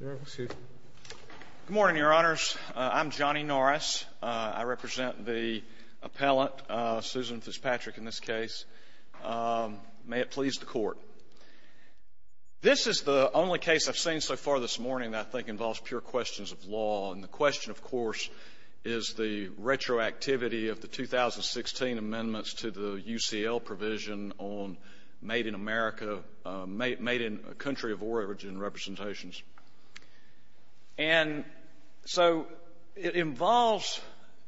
Good morning, Your Honors. I'm Johnny Norris. I represent the appellant, Susan Fitzpatrick, in this case. May it please the Court. This is the only case I've seen so far this morning that I think involves pure questions of law, and the question, of course, is the retroactivity of the 2016 amendments to the UCL provision on made in America, made in a country of origin representations. And so it involves,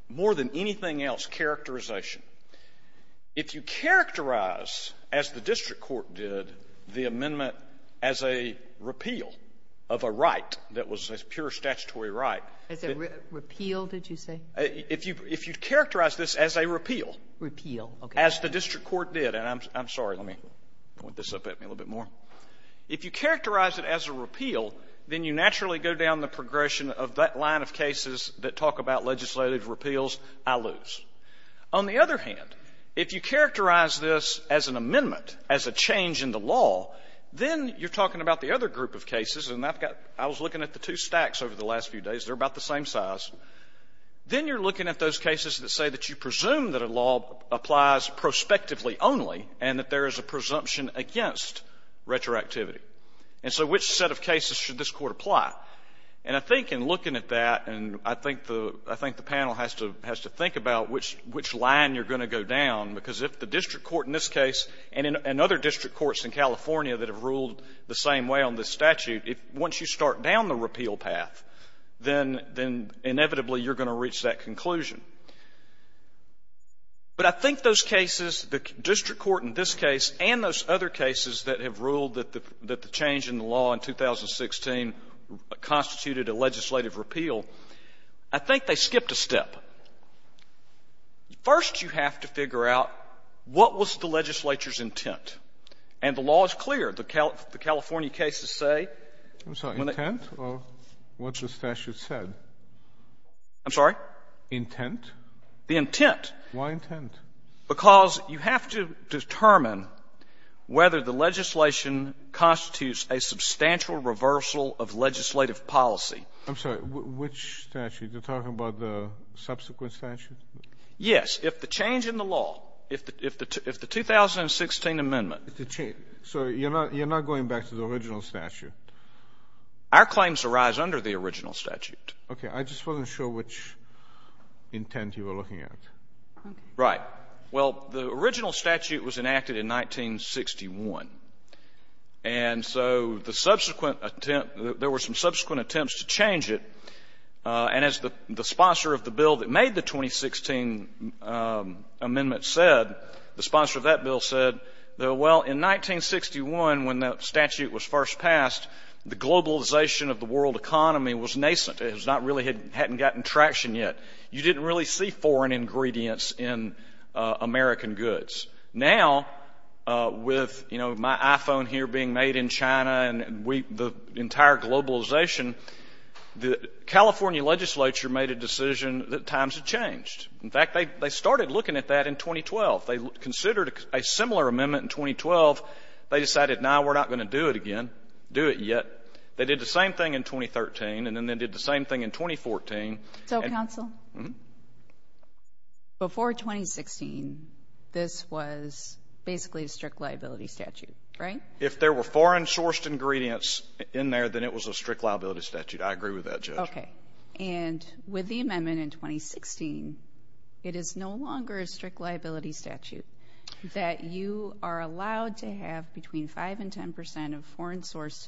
more than anything else, characterization. If you characterize, as the district court did, the amendment as a repeal of a right that was a pure statutory right— As a repeal, did you say? If you characterize this as a repeal— Repeal, okay. As the district court did, and I'm sorry, let me point this up at me a little bit more. If you characterize it as a repeal, then you naturally go down the progression of that line of cases that talk about legislative repeals, I lose. On the other hand, if you characterize this as an amendment, as a change in the law, then you're talking about the other group of cases, and I've got — I was looking at the two stacks over the last few days. They're about the same size. Then you're looking at those cases that say that you presume that a law applies prospectively only, and that there is a presumption against retroactivity. And so which set of cases should this Court apply? And I think in looking at that, and I think the panel has to think about which line you're going to go down, because if the district court in this case and other district courts in California that have ruled the same way on this statute, once you start down the repeal path, then inevitably you're going to reach that conclusion. But I think those cases, the district court in this case and those other cases that have ruled that the change in the law in 2016 constituted a legislative repeal, I think they skipped a step. First, you have to figure out what was the legislature's intent. And the law is clear. The California cases say — I'm sorry. Intent or what the statute said? I'm sorry? Intent. The intent. Why intent? Because you have to determine whether the legislation constitutes a substantial reversal of legislative policy. I'm sorry. Which statute? Are you talking about the subsequent statute? Yes. If the change in the law, if the 2016 amendment — So you're not going back to the original statute? Our claims arise under the original statute. Okay. I just wasn't sure which intent you were looking at. Right. Well, the original statute was enacted in 1961. And so the subsequent attempt — there were some subsequent attempts to change it. And as the sponsor of the bill that made the 2016 amendment said, the sponsor of that bill said, well, in 1961 when that statute was first passed, the globalization of the world economy was nascent. It hadn't gotten traction yet. You didn't really see foreign ingredients in American goods. Now, with, you know, my iPhone here being made in China and the entire globalization, the California legislature made a decision that times had changed. In fact, they started looking at that in 2012. They considered a similar amendment in 2012. They decided, no, we're not going to do it again, do it yet. They did the same thing in 2013, and then they did the same thing in 2014. So, counsel, before 2016, this was basically a strict liability statute, right? If there were foreign-sourced ingredients in there, then it was a strict liability statute. I agree with that, Judge. Okay. And with the amendment in 2016, it is no longer a strict liability statute that you are allowed to have between 5 and 10 percent of foreign-sourced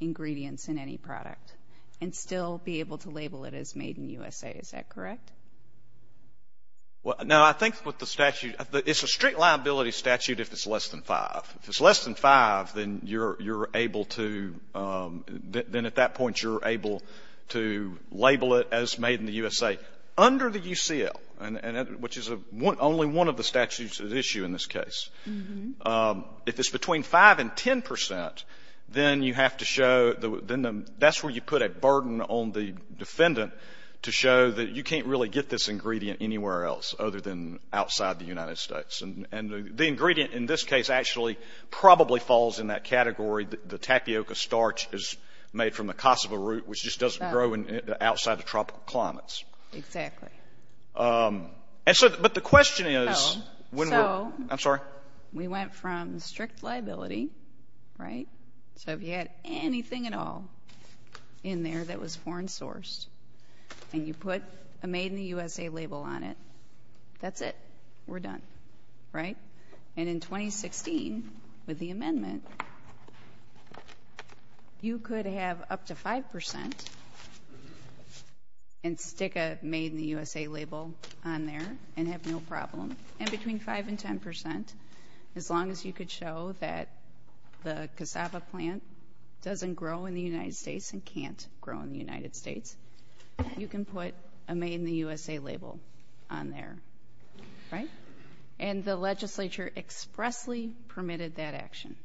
ingredients in any product and still be able to label it as made in the USA. Is that correct? Well, no, I think with the statute — it's a strict liability statute if it's less than five. If it's less than five, then you're able to — then at that point, you're able to label it as made in the USA. Under the UCL, which is only one of the statutes at issue in this case, if it's between 5 and 10 percent, then you have to show — then that's where you put a burden on the defendant to show that you can't really get this ingredient anywhere else other than outside the United States. And the ingredient in this case actually probably falls in that category. The tapioca starch is made from the Kosovo root, which just doesn't grow outside the tropical climates. Exactly. And so — but the question is — So — I'm sorry? We went from strict liability, right? So if you had anything at all in there that was foreign-sourced and you put a made in the USA label on it, that's it. We're done. Right? And in 2016, with the amendment, you could have up to 5 percent and stick a made in the USA label on there and have no problem. And between 5 and 10 percent, as long as you could show that the cassava plant doesn't grow in the United States and can't grow in the United States, you can put a made in the And the legislature expressly permitted that action.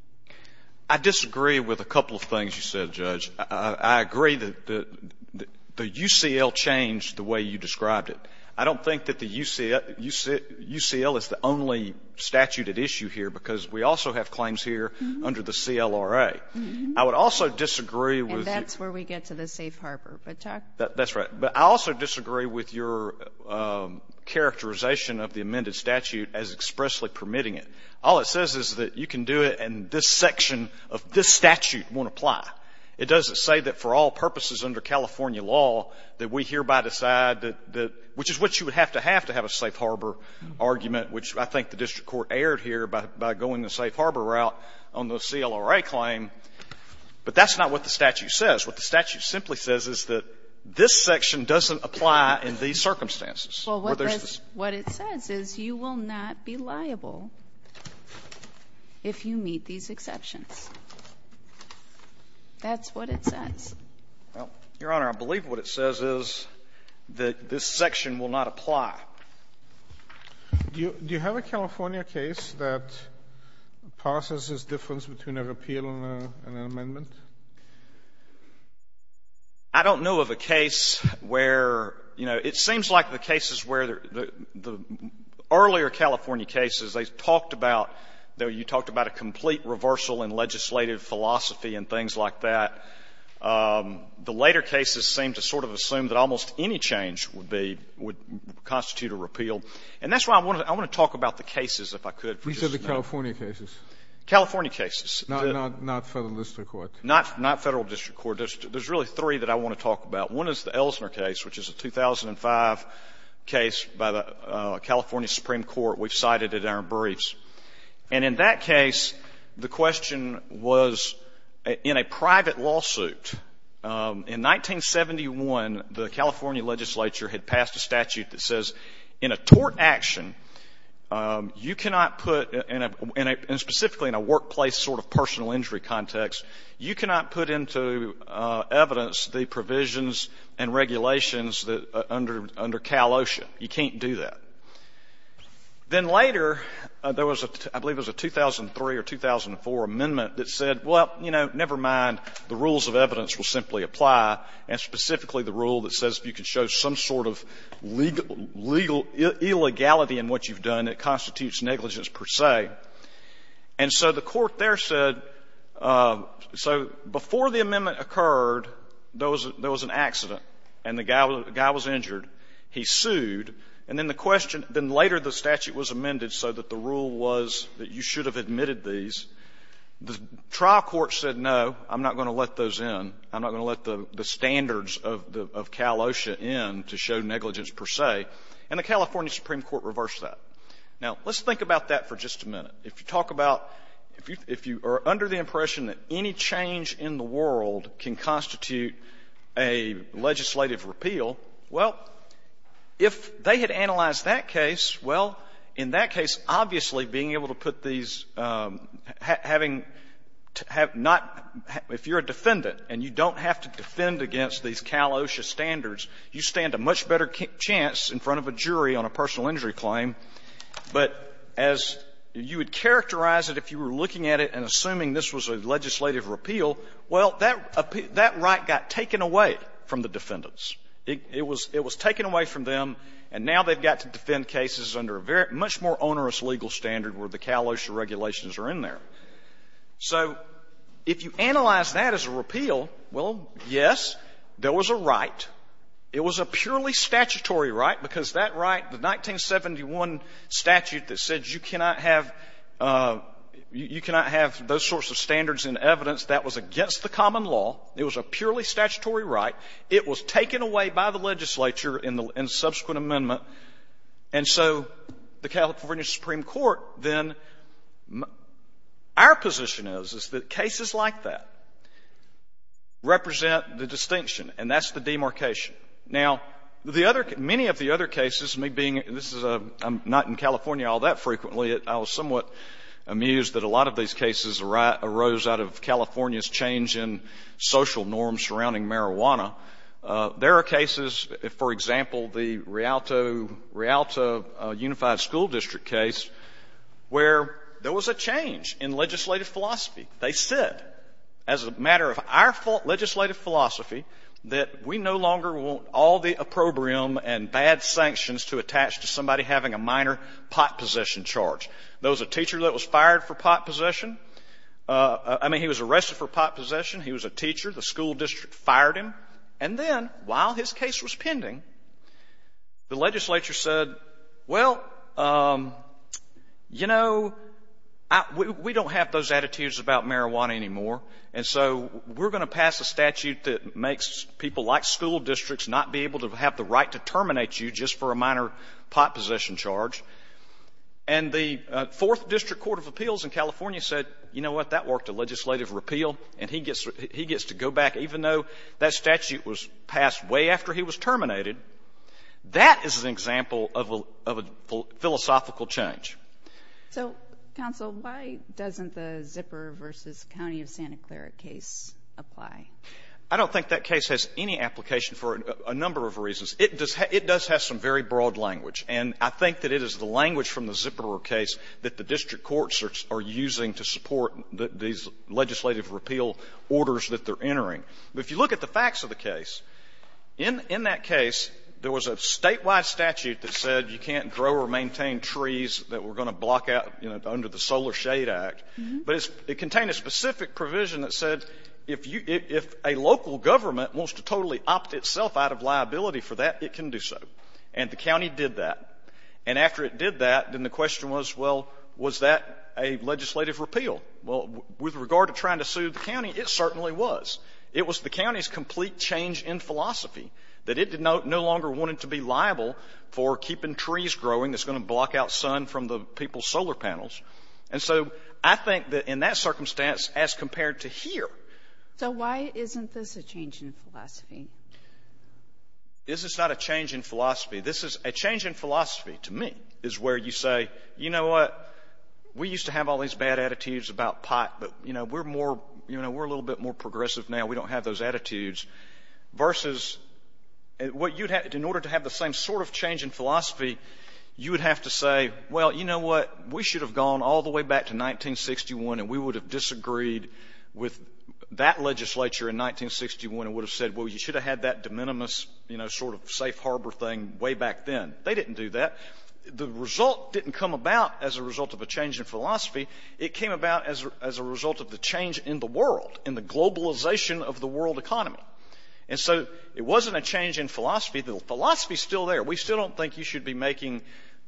I disagree with a couple of things you said, Judge. I agree that the UCL changed the way you described it. I don't think that the UCL is the only statute at issue here because we also have claims here under the CLRA. I would also disagree with — And that's where we get to the safe harbor. That's right. But I also disagree with your characterization of the amended statute as expressly permitting it. All it says is that you can do it and this section of this statute won't apply. It doesn't say that for all purposes under California law that we hereby decide that — which is what you would have to have to have a safe harbor argument, which I think the district court aired here by going the safe harbor route on the CLRA claim. But that's not what the statute says. What the statute simply says is that this section doesn't apply in these circumstances. Well, what it says is you will not be liable if you meet these exceptions. That's what it says. Well, Your Honor, I believe what it says is that this section will not apply. Do you have a California case that passes this difference between a repeal and an amendment? I don't know of a case where — you know, it seems like the cases where the earlier California cases, they talked about — you talked about a complete reversal in legislative philosophy and things like that. The later cases seem to sort of assume that almost any change would be — would constitute a repeal. And that's why I want to talk about the cases, if I could. These are the California cases. California cases. Not Federal District Court. Not Federal District Court. There's really three that I want to talk about. One is the Ellsner case, which is a 2005 case by the California Supreme Court. We've cited it in our briefs. And in that case, the question was, in a private lawsuit, in 1971, the California legislature had passed a statute that says in a tort action, you cannot put — and specifically in a workplace sort of personal injury context, you cannot put into evidence the provisions and regulations that — under Cal OSHA. You can't do that. Then later, there was a — I believe it was a 2003 or 2004 amendment that said, well, you know, never mind. The rules of evidence will simply apply. And specifically the rule that says if you could show some sort of legal — legal illegality in what you've done, it constitutes negligence per se. And so the Court there said — so before the amendment occurred, there was an accident and the guy was injured. He sued. And then the question — then later the statute was amended so that the rule was that you should have admitted these. The trial court said, no, I'm not going to let those in. I'm not going to let the standards of Cal OSHA in to show negligence per se. And the California Supreme Court reversed that. Now, let's think about that for just a minute. If you talk about — if you are under the impression that any change in the world can constitute a legislative repeal, well, if they had analyzed that case, well, in that case, obviously being able to put these — having — have not — if you're a defendant and you don't have to defend against these Cal OSHA standards, you stand a much better chance in front of a jury on a personal injury claim. But as you would characterize it if you were looking at it and assuming this was a legislative repeal, well, that right got taken away from the defendants. It was taken away from them, and now they've got to defend cases under a much more onerous legal standard where the Cal OSHA regulations are in there. So if you analyze that as a repeal, well, yes, there was a right. It was a purely statutory right because that right, the 1971 statute that said you cannot have — you cannot have those sorts of standards in evidence, that was against the common law. It was a purely statutory right. It was taken away by the legislature in the subsequent amendment. And so the California Supreme Court then — our position is, is that cases like that represent the distinction, and that's the demarcation. Now, the other — many of the other cases, me being — this is a — I'm not in California all that frequently. I was somewhat amused that a lot of these cases arose out of California's change in social norms surrounding marijuana. There are cases, for example, the Rialto — Rialto Unified School District case where there was a change in legislative philosophy. They said, as a matter of our legislative philosophy, that we no longer want all the opprobrium and bad sanctions to attach to somebody having a minor pot possession charge. There was a teacher that was fired for pot possession — I mean, he was arrested for pot possession. He was a teacher. The school district fired him. And then, while his case was pending, the legislature said, well, you know, we don't have those attitudes about marijuana anymore, and so we're going to pass a statute that makes people like school districts not be able to have the right to terminate you just for a minor pot possession charge. And the Fourth District Court of Appeals in California said, you know what, that worked, a legislative repeal, and he gets — he gets to go back even though that statute was passed way after he was terminated. That is an example of a philosophical change. So, counsel, why doesn't the Zipperer v. County of Santa Clara case apply? I don't think that case has any application for a number of reasons. It does have some very broad language, and I think that it is the language from the Zipperer case that the district courts are using to support these legislative repeal orders that they're entering. But if you look at the facts of the case, in that case, there was a statewide statute that said you can't grow or maintain trees that were going to block out, you know, under the Solar Shade Act. But it contained a specific provision that said if a local government wants to totally opt itself out of liability for that, it can do so. And the county did that. And after it did that, then the question was, well, was that a legislative repeal? Well, with regard to trying to sue the county, it certainly was. It was the county's complete change in philosophy, that it no longer wanted to be liable for keeping trees growing that's going to block out sun from the people's solar panels. And so I think that in that circumstance, as compared to here. So why isn't this a change in philosophy? This is not a change in philosophy. This is a change in philosophy, to me, is where you say, you know what, we used to have all these bad attitudes about pot, but, you know, we're more, you know, we're a little bit more progressive now. We don't have those attitudes. Versus what you'd have, in order to have the same sort of change in philosophy, you would have to say, well, you know what, we should have gone all the way back to 1961 and we would have disagreed with that legislature in 1961 and would have said, well, you should have had that de minimis, you know, sort of safe harbor thing way back then. They didn't do that. The result didn't come about as a result of a change in philosophy. It came about as a result of the change in the world, in the globalization of the world economy. And so it wasn't a change in philosophy. The philosophy is still there. We still don't think you should be making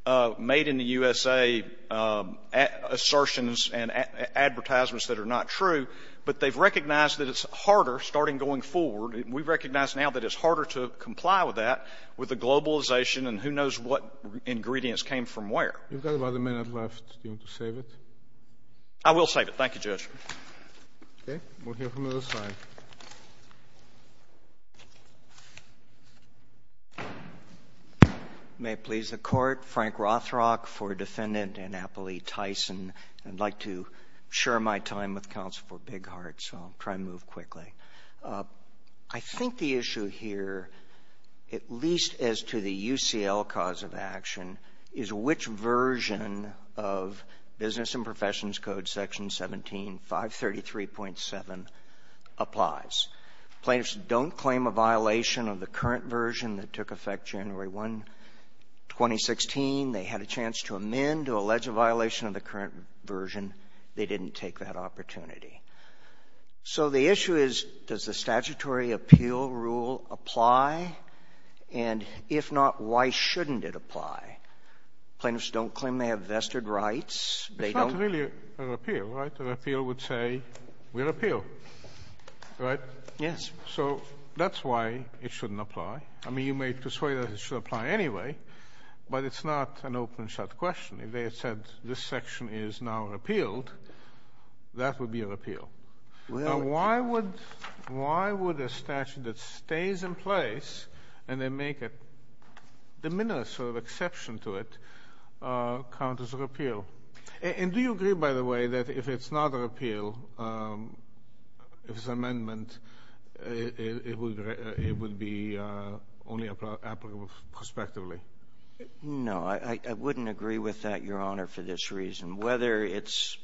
made-in-the-USA assertions and advertisements that are not true, but they've recognized that it's harder, starting going forward, we recognize now that it's harder to comply with that, with the globalization and who knows what ingredients came from where. You've got about a minute left. Do you want to save it? I will save it. Thank you, Judge. Okay. We'll hear from the other side. May it please the Court. Frank Rothrock for Defendant Annapolis Tyson. I'd like to share my time with Counsel for Bighart, so I'll try and move quickly. I think the issue here, at least as to the UCL cause of action, is which version of Section 17, 533.7 applies. Plaintiffs don't claim a violation of the current version that took effect January 1, 2016. They had a chance to amend to allege a violation of the current version. They didn't take that opportunity. So the issue is, does the statutory appeal rule apply? And if not, why shouldn't it apply? Plaintiffs don't claim they have vested rights. They don't. It's not really a repeal, right? A repeal would say, we repeal. Right? Yes. So that's why it shouldn't apply. I mean, you may persuade us it should apply anyway, but it's not an open-shut question. If they had said, this section is now repealed, that would be a repeal. Why would a statute that stays in place, and they make a de minimis sort of exception to it, count as a repeal? And do you agree, by the way, that if it's not a repeal, if it's an amendment, it would be only applicable prospectively? No, I wouldn't agree with that, Your Honor, for this reason. Whether it's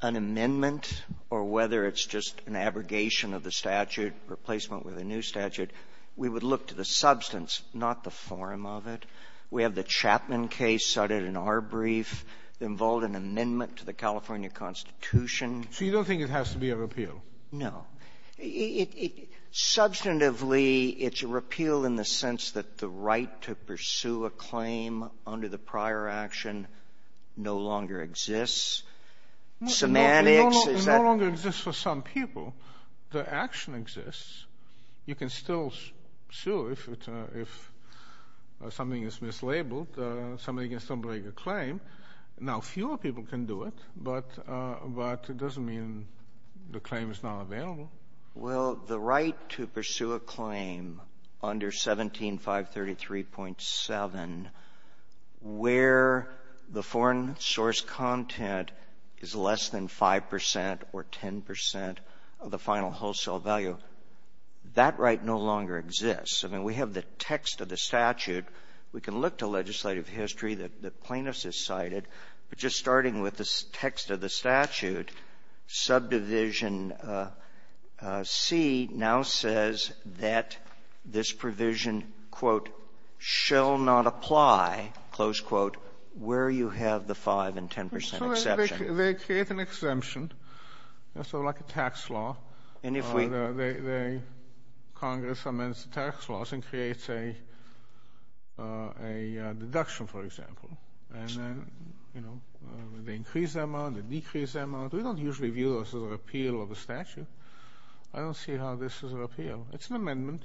an amendment or whether it's just an abrogation of the statute, replacement with a new statute, we would look to the substance, not the form of it. We have the Chapman case cited in our brief that involved an amendment to the California Constitution. So you don't think it has to be a repeal? No. Substantively, it's a repeal in the sense that the right to pursue a claim under the prior action no longer exists? Semantics? It no longer exists for some people. The action exists. You can still sue if something is mislabeled. Somebody can still break a claim. Now, fewer people can do it, but it doesn't mean the claim is not available. Well, the right to pursue a claim under 17533.7 where the foreign source content is less than 5 percent or 10 percent of the final wholesale value, that right no longer exists. I mean, we have the text of the statute. We can look to legislative history that plaintiffs have cited, but just starting with the text of the statute, subdivision C now says that this provision, quote, shall not apply, close quote, where you have the 5 and 10 percent exception. They create an exemption, so like a tax law. And if we... Congress amends the tax laws and creates a deduction, for example. And then, you know, they increase the amount, they decrease the amount. We don't usually view this as a repeal of a statute. I don't see how this is a repeal. It's an amendment.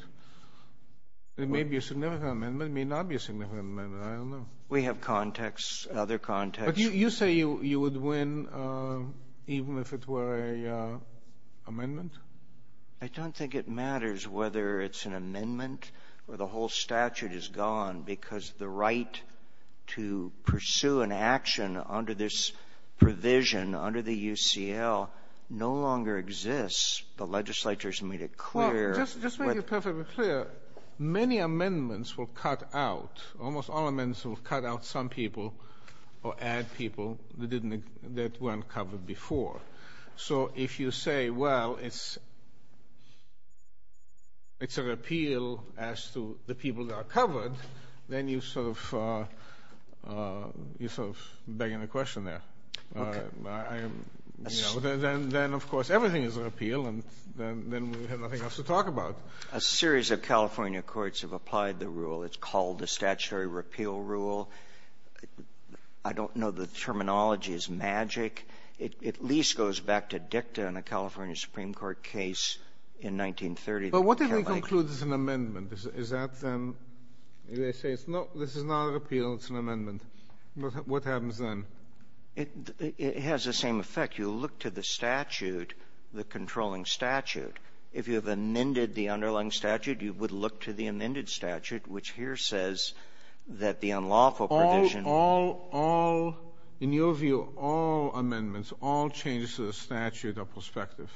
It may be a significant amendment. It may not be a significant amendment. I don't know. We have context, other context. But you say you would win even if it were an amendment? I don't think it matters whether it's an amendment or the whole statute is gone because the right to pursue an action under this provision, under the UCL, no longer exists. The legislature has made it clear... Well, just to make it perfectly clear, many amendments will cut out, almost all amendments will cut out some people or add people that weren't covered before. So if you say, well, it's a repeal as to the people that are covered, then you're sort of begging a question there. Okay. Then, of course, everything is a repeal and then we have nothing else to talk about. A series of California courts have applied the rule. It's called the statutory repeal rule. I don't know the terminology is magic. It at least goes back to dicta in a California Supreme Court case in 1930. But what if it concludes it's an amendment? Is that then, they say, no, this is not a repeal, it's an amendment. What happens then? It has the same effect. You look to the statute, the controlling statute. If you have amended the underlying statute, you would look to the amended statute, which here says that the unlawful provision... In your view, all amendments, all changes to the statute are prospective.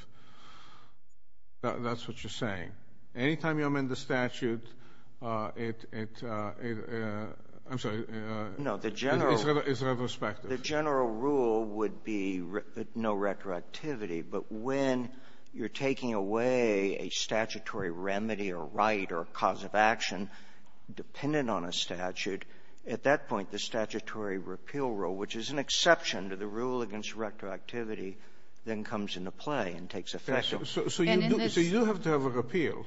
That's what you're saying. Anytime you amend the statute, it... I'm sorry. No, the general... It's retrospective. The general rule would be no retroactivity. But when you're taking away a statutory remedy or right or cause of action dependent on a statutory repeal rule, which is an exception to the rule against retroactivity, then comes into play and takes effect. So you do have to have a repeal.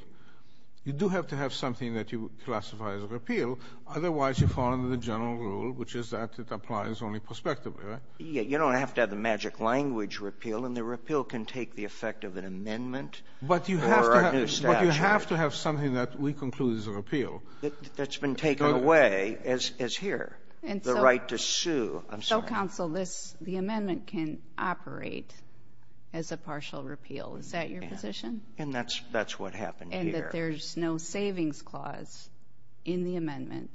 You do have to have something that you classify as a repeal. Otherwise, you fall under the general rule, which is that it applies only prospectively, right? You don't have to have the magic language repeal. And the repeal can take the effect of an amendment or a new statute. But you have to have something that we conclude is a repeal. That's been taken away, as here, the right to sue. So, counsel, the amendment can operate as a partial repeal. Is that your position? And that's what happened here. And that there's no savings clause in the amendment.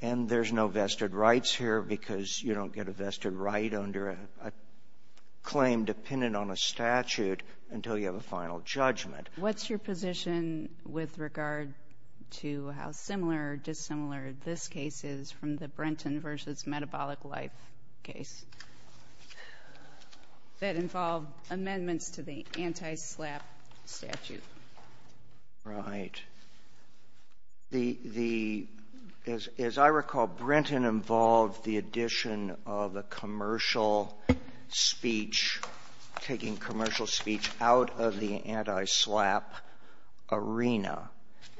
And there's no vested rights here because you don't get a vested right under a claim dependent on a statute until you have a final judgment. What's your position with regard to how similar or dissimilar this case is from the Brenton versus metabolic life case that involved amendments to the anti-SLAPP statute? Right. The, as I recall, Brenton involved the addition of a commercial speech, taking commercial speech out of the anti-SLAPP arena.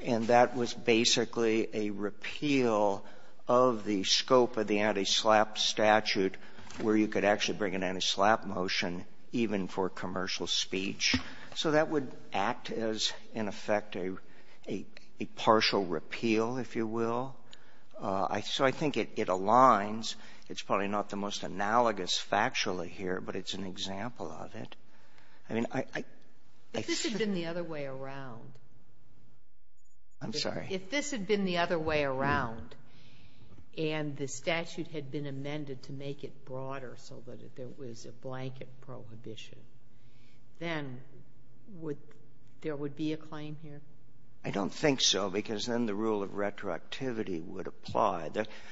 And that was basically a repeal of the scope of the anti-SLAPP statute where you could actually bring an anti-SLAPP motion even for commercial speech. So that would act as, in effect, a partial repeal, if you will. So I think it aligns. It's probably not the most analogous factually here, but it's an example of it. I mean, I — If this had been the other way around — I'm sorry? If this had been the other way around and the statute had been amended to make it broader so that there was a blanket prohibition, then would — there would be a claim here? I don't think so because then the rule of retroactivity would apply.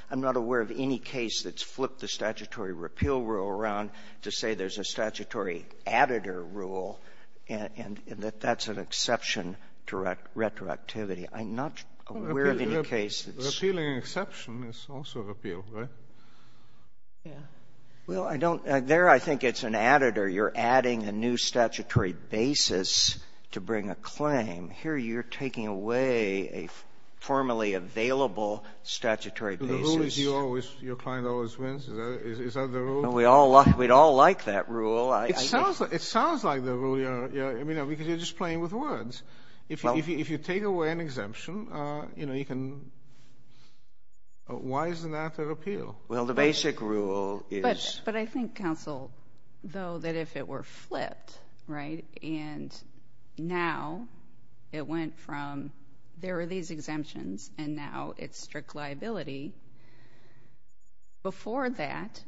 I'm not aware of any case that's flipped the statutory repeal rule around to say there's a statutory additor rule and that that's an exception to retroactivity. I'm not aware of any case that's — Repealing an exception is also a repeal, right? Yeah. Well, I don't — there I think it's an additor. You're adding a new statutory basis to bring a claim. Here you're taking away a formerly available statutory basis. The rule is your client always wins? Is that the rule? We'd all like that rule. It sounds like the rule. I mean, because you're just playing with words. If you take away an exemption, you know, you can — why isn't that a repeal? Well, the basic rule is — But I think, counsel, though, that if it were flipped, right, and now it went from there are these exemptions and now it's strict liability, before that,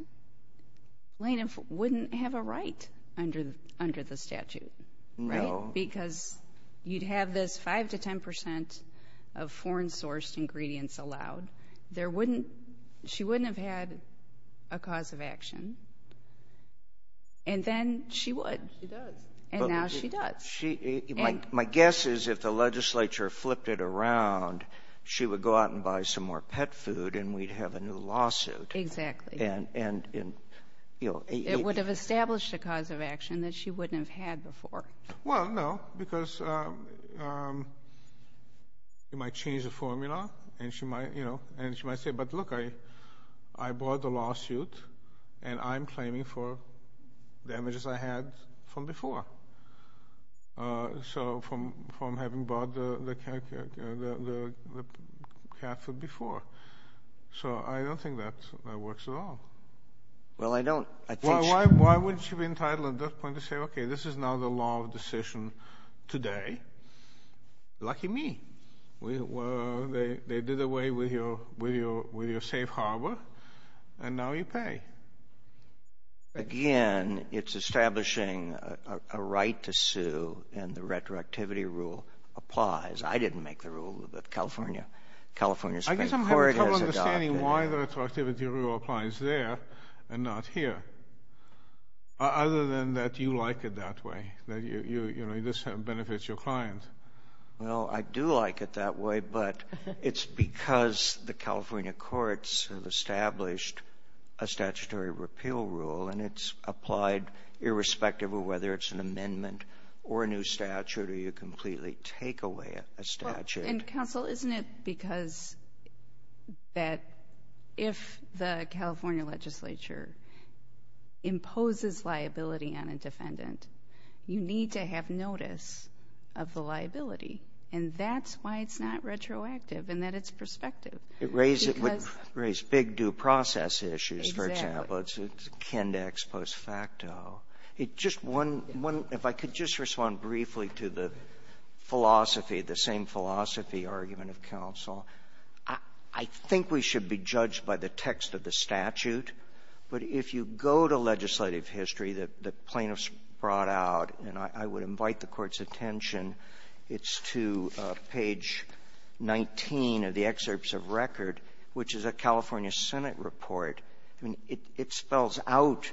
Lena wouldn't have a right under the statute, right? No. Because you'd have this 5 to 10 percent of foreign-sourced ingredients allowed. There wouldn't — she wouldn't have had a cause of action. And then she would. She does. And now she does. My guess is if the legislature flipped it around, she would go out and buy some more pet food and we'd have a new lawsuit. Exactly. It would have established a cause of action that she wouldn't have had before. Well, no, because you might change the formula and she might say, but look, I bought the lawsuit and I'm claiming for damages I had from before, so from having bought the cat food before. So I don't think that works at all. Well, I don't. Why wouldn't she be entitled at that point to say, okay, this is now the law of decision today. Lucky me. They did away with your safe harbor and now you pay. Again, it's establishing a right to sue and the retroactivity rule applies. I didn't make the rule, but California State Court has adopted it. I guess I'm having trouble understanding why the retroactivity rule applies there and not here, other than that you like it that way, that this benefits your client. Well, I do like it that way, but it's because the California courts have established a statutory repeal rule and it's applied irrespective of whether it's an amendment or a new statute or you completely take away a statute. Counsel, isn't it because that if the California legislature imposes liability on a defendant, you need to have notice of the liability. And that's why it's not retroactive in that it's prospective. It would raise big due process issues, for example. Exactly. It's a kindex post facto. If I could just respond briefly to the philosophy, the same philosophy argument of counsel. I think we should be judged by the text of the statute, but if you go to legislative history that plaintiffs brought out, and I would invite the Court's attention, it's to page 19 of the excerpts of record, which is a California Senate report. I mean, it spells out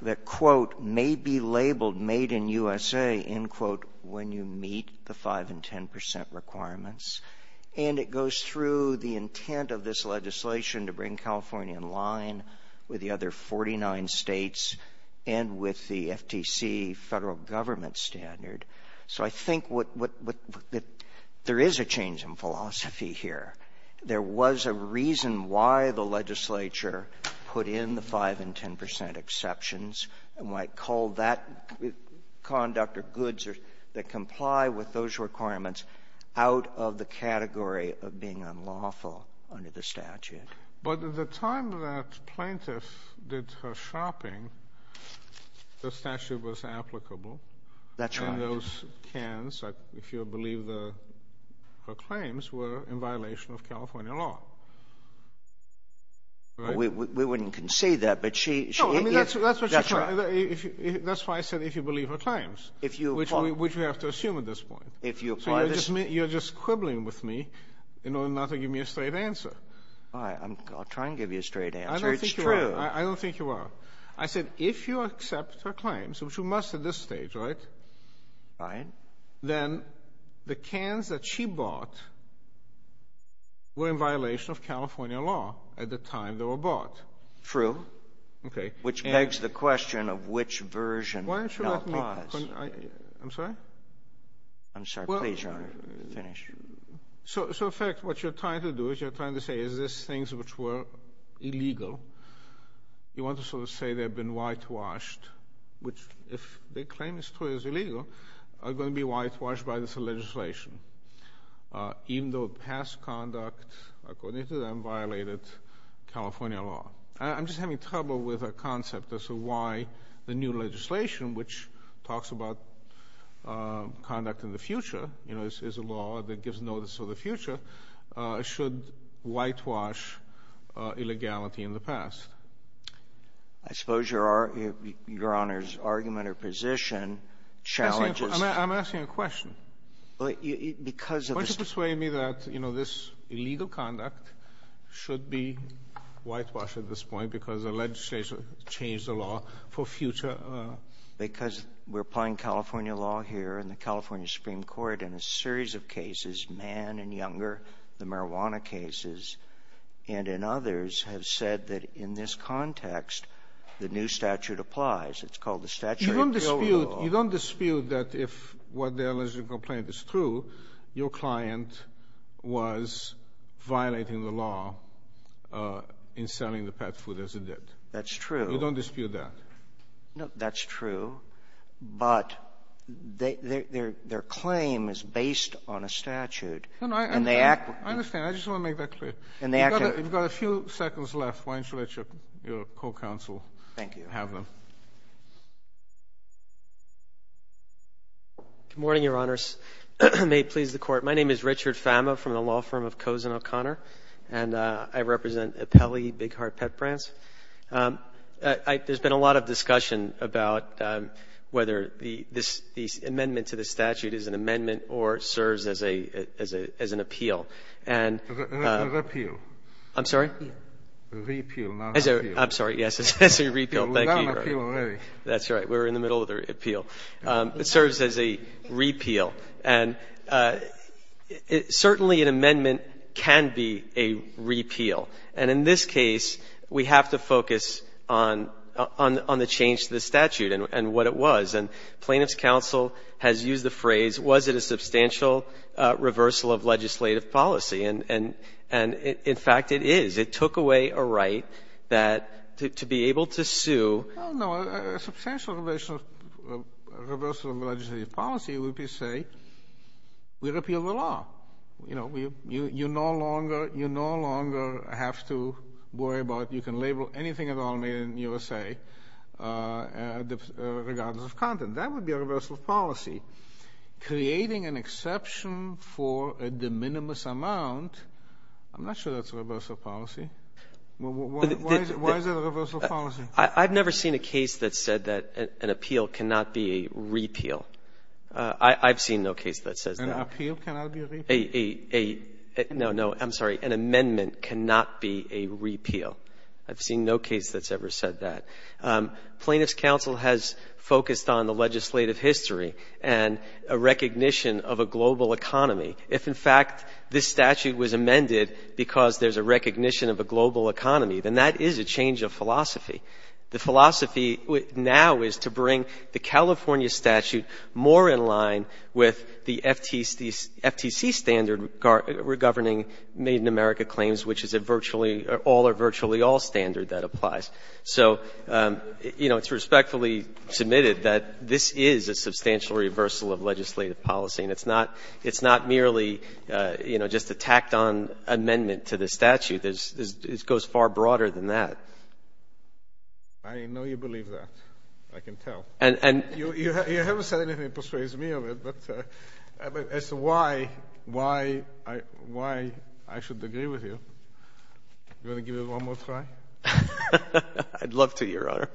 that, quote, may be labeled made in USA, end quote, when you meet the 5 and 10 percent requirements. And it goes through the intent of this legislation to bring California in line with the other 49 states and with the FTC federal government standard. So I think there is a change in philosophy here. There was a reason why the legislature put in the 5 and 10 percent exceptions and why it called that conduct or goods that comply with those requirements out of the category of being unlawful under the statute. But at the time that plaintiff did her shopping, the statute was applicable. That's right. And those cans, if you believe her claims, were in violation of California law. We wouldn't concede that. No, I mean, that's what she said. That's why I said, if you believe her claims, which we have to assume at this point. So you're just quibbling with me in order not to give me a straight answer. I'll try and give you a straight answer. It's true. I don't think you are. I said, if you accept her claims, which you must at this stage, right? Fine. Then the cans that she bought were in violation of California law at the time they were bought. True. Okay. Which begs the question of which version. Why don't you let me finish? I'm sorry? I'm sorry. Please finish. So, in fact, what you're trying to do is you're trying to say, is this things which were illegal, you want to sort of say they've been whitewashed, which if the claim is true is illegal, are going to be whitewashed by this legislation, even though past conduct, according to them, violated California law. I'm just having trouble with a concept as to why the new legislation, which talks about conduct in the future, you know, is a law that gives notice of the future, should whitewash illegality in the past. I suppose your Honor's argument or position challenges— I'm asking a question. Why don't you persuade me that, you know, this illegal conduct should be whitewashed at this point because the legislation changed the law for future— Because we're applying California law here in the California Supreme Court in a series of cases, Mann and Younger, the marijuana cases, and in others have said that in this context the new statute applies. It's called the Statutory Appeal Law. You don't dispute that if what the alleged complaint is true, your client was violating the law in selling the pet food as a debt. That's true. You don't dispute that. No, that's true. But their claim is based on a statute. I understand. I just want to make that clear. We've got a few seconds left. Why don't you let your co-counsel have them. Thank you. Good morning, Your Honors. May it please the Court. My name is Richard Fama from the law firm of Cozen O'Connor, and I represent Apelli Big Heart Pet Brands. There's been a lot of discussion about whether the amendment to the statute is an amendment or serves as an appeal. An appeal. I'm sorry? A repeal, not an appeal. I'm sorry. Yes, it's a repeal. Thank you, Your Honor. That's right. We're in the middle of the appeal. It serves as a repeal. And certainly an amendment can be a repeal. And in this case, we have to focus on the change to the statute and what it was. And Plaintiff's Counsel has used the phrase, was it a substantial reversal of legislative policy? And, in fact, it is. It took away a right to be able to sue. Well, no. A substantial reversal of legislative policy would be to say we repeal the law. You know, you no longer have to worry about you can label anything at all made in the USA regardless of content. That would be a reversal of policy. Creating an exception for a de minimis amount, I'm not sure that's a reversal of policy. Why is it a reversal of policy? I've never seen a case that said that an appeal cannot be a repeal. I've seen no case that says that. An appeal cannot be a repeal? No, no. I'm sorry. An amendment cannot be a repeal. I've seen no case that's ever said that. Plaintiff's Counsel has focused on the legislative history and a recognition of a global economy. If, in fact, this statute was amended because there's a recognition of a global economy, then that is a change of philosophy. The philosophy now is to bring the California statute more in line with the FTC standard governing Made in America claims, which is a virtually all or virtually all standard that applies. So, you know, it's respectfully submitted that this is a substantial reversal of legislative policy, and it's not merely, you know, just a tacked-on amendment to the statute. It goes far broader than that. I know you believe that. I can tell. And you haven't said anything that persuades me of it, but as to why I should agree with you, you want to give it one more try? I'd love to, Your Honor.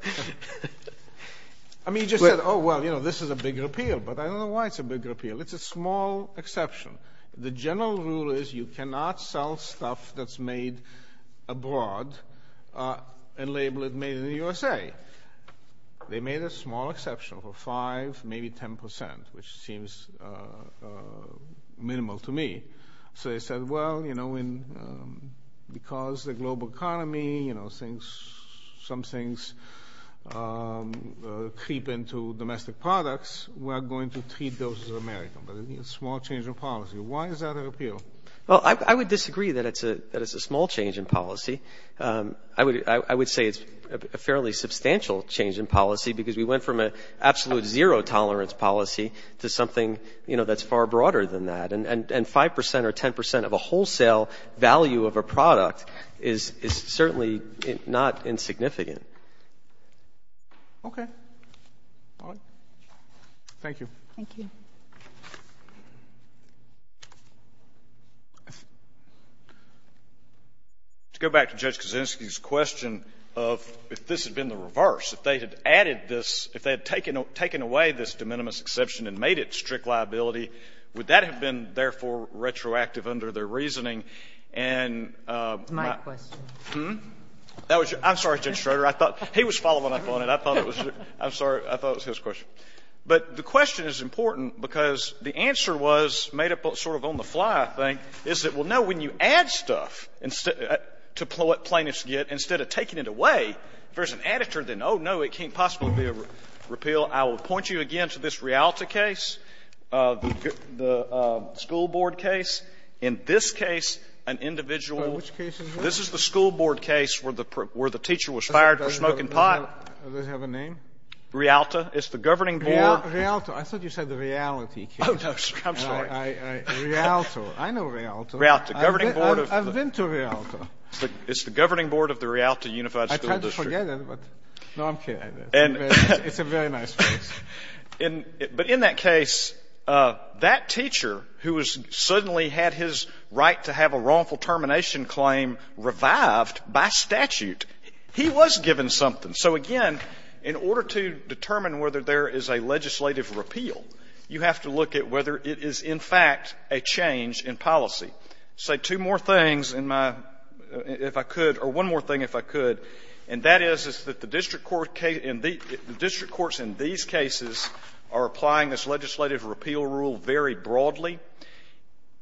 I mean, you just said, oh, well, you know, this is a big repeal. But I don't know why it's a big repeal. It's a small exception. The general rule is you cannot sell stuff that's made abroad and label it made in the USA. They made a small exception for 5%, maybe 10%, which seems minimal to me. So they said, well, you know, because the global economy, you know, some things creep into domestic products, we're going to treat those as American. But it's a small change in policy. Why is that a repeal? Well, I would disagree that it's a small change in policy. I would say it's a fairly substantial change in policy, because we went from an absolute zero-tolerance policy to something, you know, that's far broader than that. And 5% or 10% of a wholesale value of a product is certainly not insignificant. Okay. All right. Thank you. Thank you. To go back to Judge Kaczynski's question of if this had been the reverse, if they had added this, if they had taken away this de minimis exception and made it strict liability, would that have been, therefore, retroactive under their reasoning and my question? It's my question. I'm sorry, Judge Schroeder. He was following up on it. I thought it was your question. I'm sorry. I thought it was his question. But the question is important, because the answer was made up sort of on the fly, I think, is that, well, no, when you add stuff to what plaintiffs get, instead of taking it away, if there's an additive, then, oh, no, it can't possibly be a repeal. I will point you again to this Rialta case, the school board case. In this case, an individual. This is the school board case where the teacher was fired for smoking pot. Does it have a name? Rialta. It's the governing board. Rialta. I thought you said the reality case. Oh, no. I'm sorry. Rialta. I know Rialta. Rialta. Governing board of the. I've been to Rialta. It's the governing board of the Rialta Unified School District. I tried to forget it, but no, I'm kidding. It's a very nice place. But in that case, that teacher, who has suddenly had his right to have a wrongful termination claim revived by statute, he was given something. And so, again, in order to determine whether there is a legislative repeal, you have to look at whether it is, in fact, a change in policy. Say two more things in my, if I could, or one more thing if I could, and that is, is that the district court case, the district courts in these cases are applying this legislative repeal rule very broadly.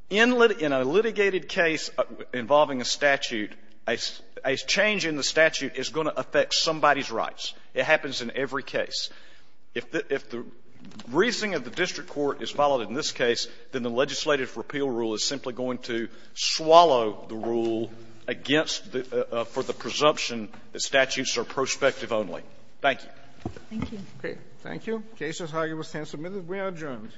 In a litigated case involving a statute, a change in the statute is going to affect somebody's rights. It happens in every case. If the reasoning of the district court is followed in this case, then the legislative repeal rule is simply going to swallow the rule against, for the presumption that statutes are prospective only. Thank you. Thank you. Thank you. The case is highly substantive. We are adjourned. All rise.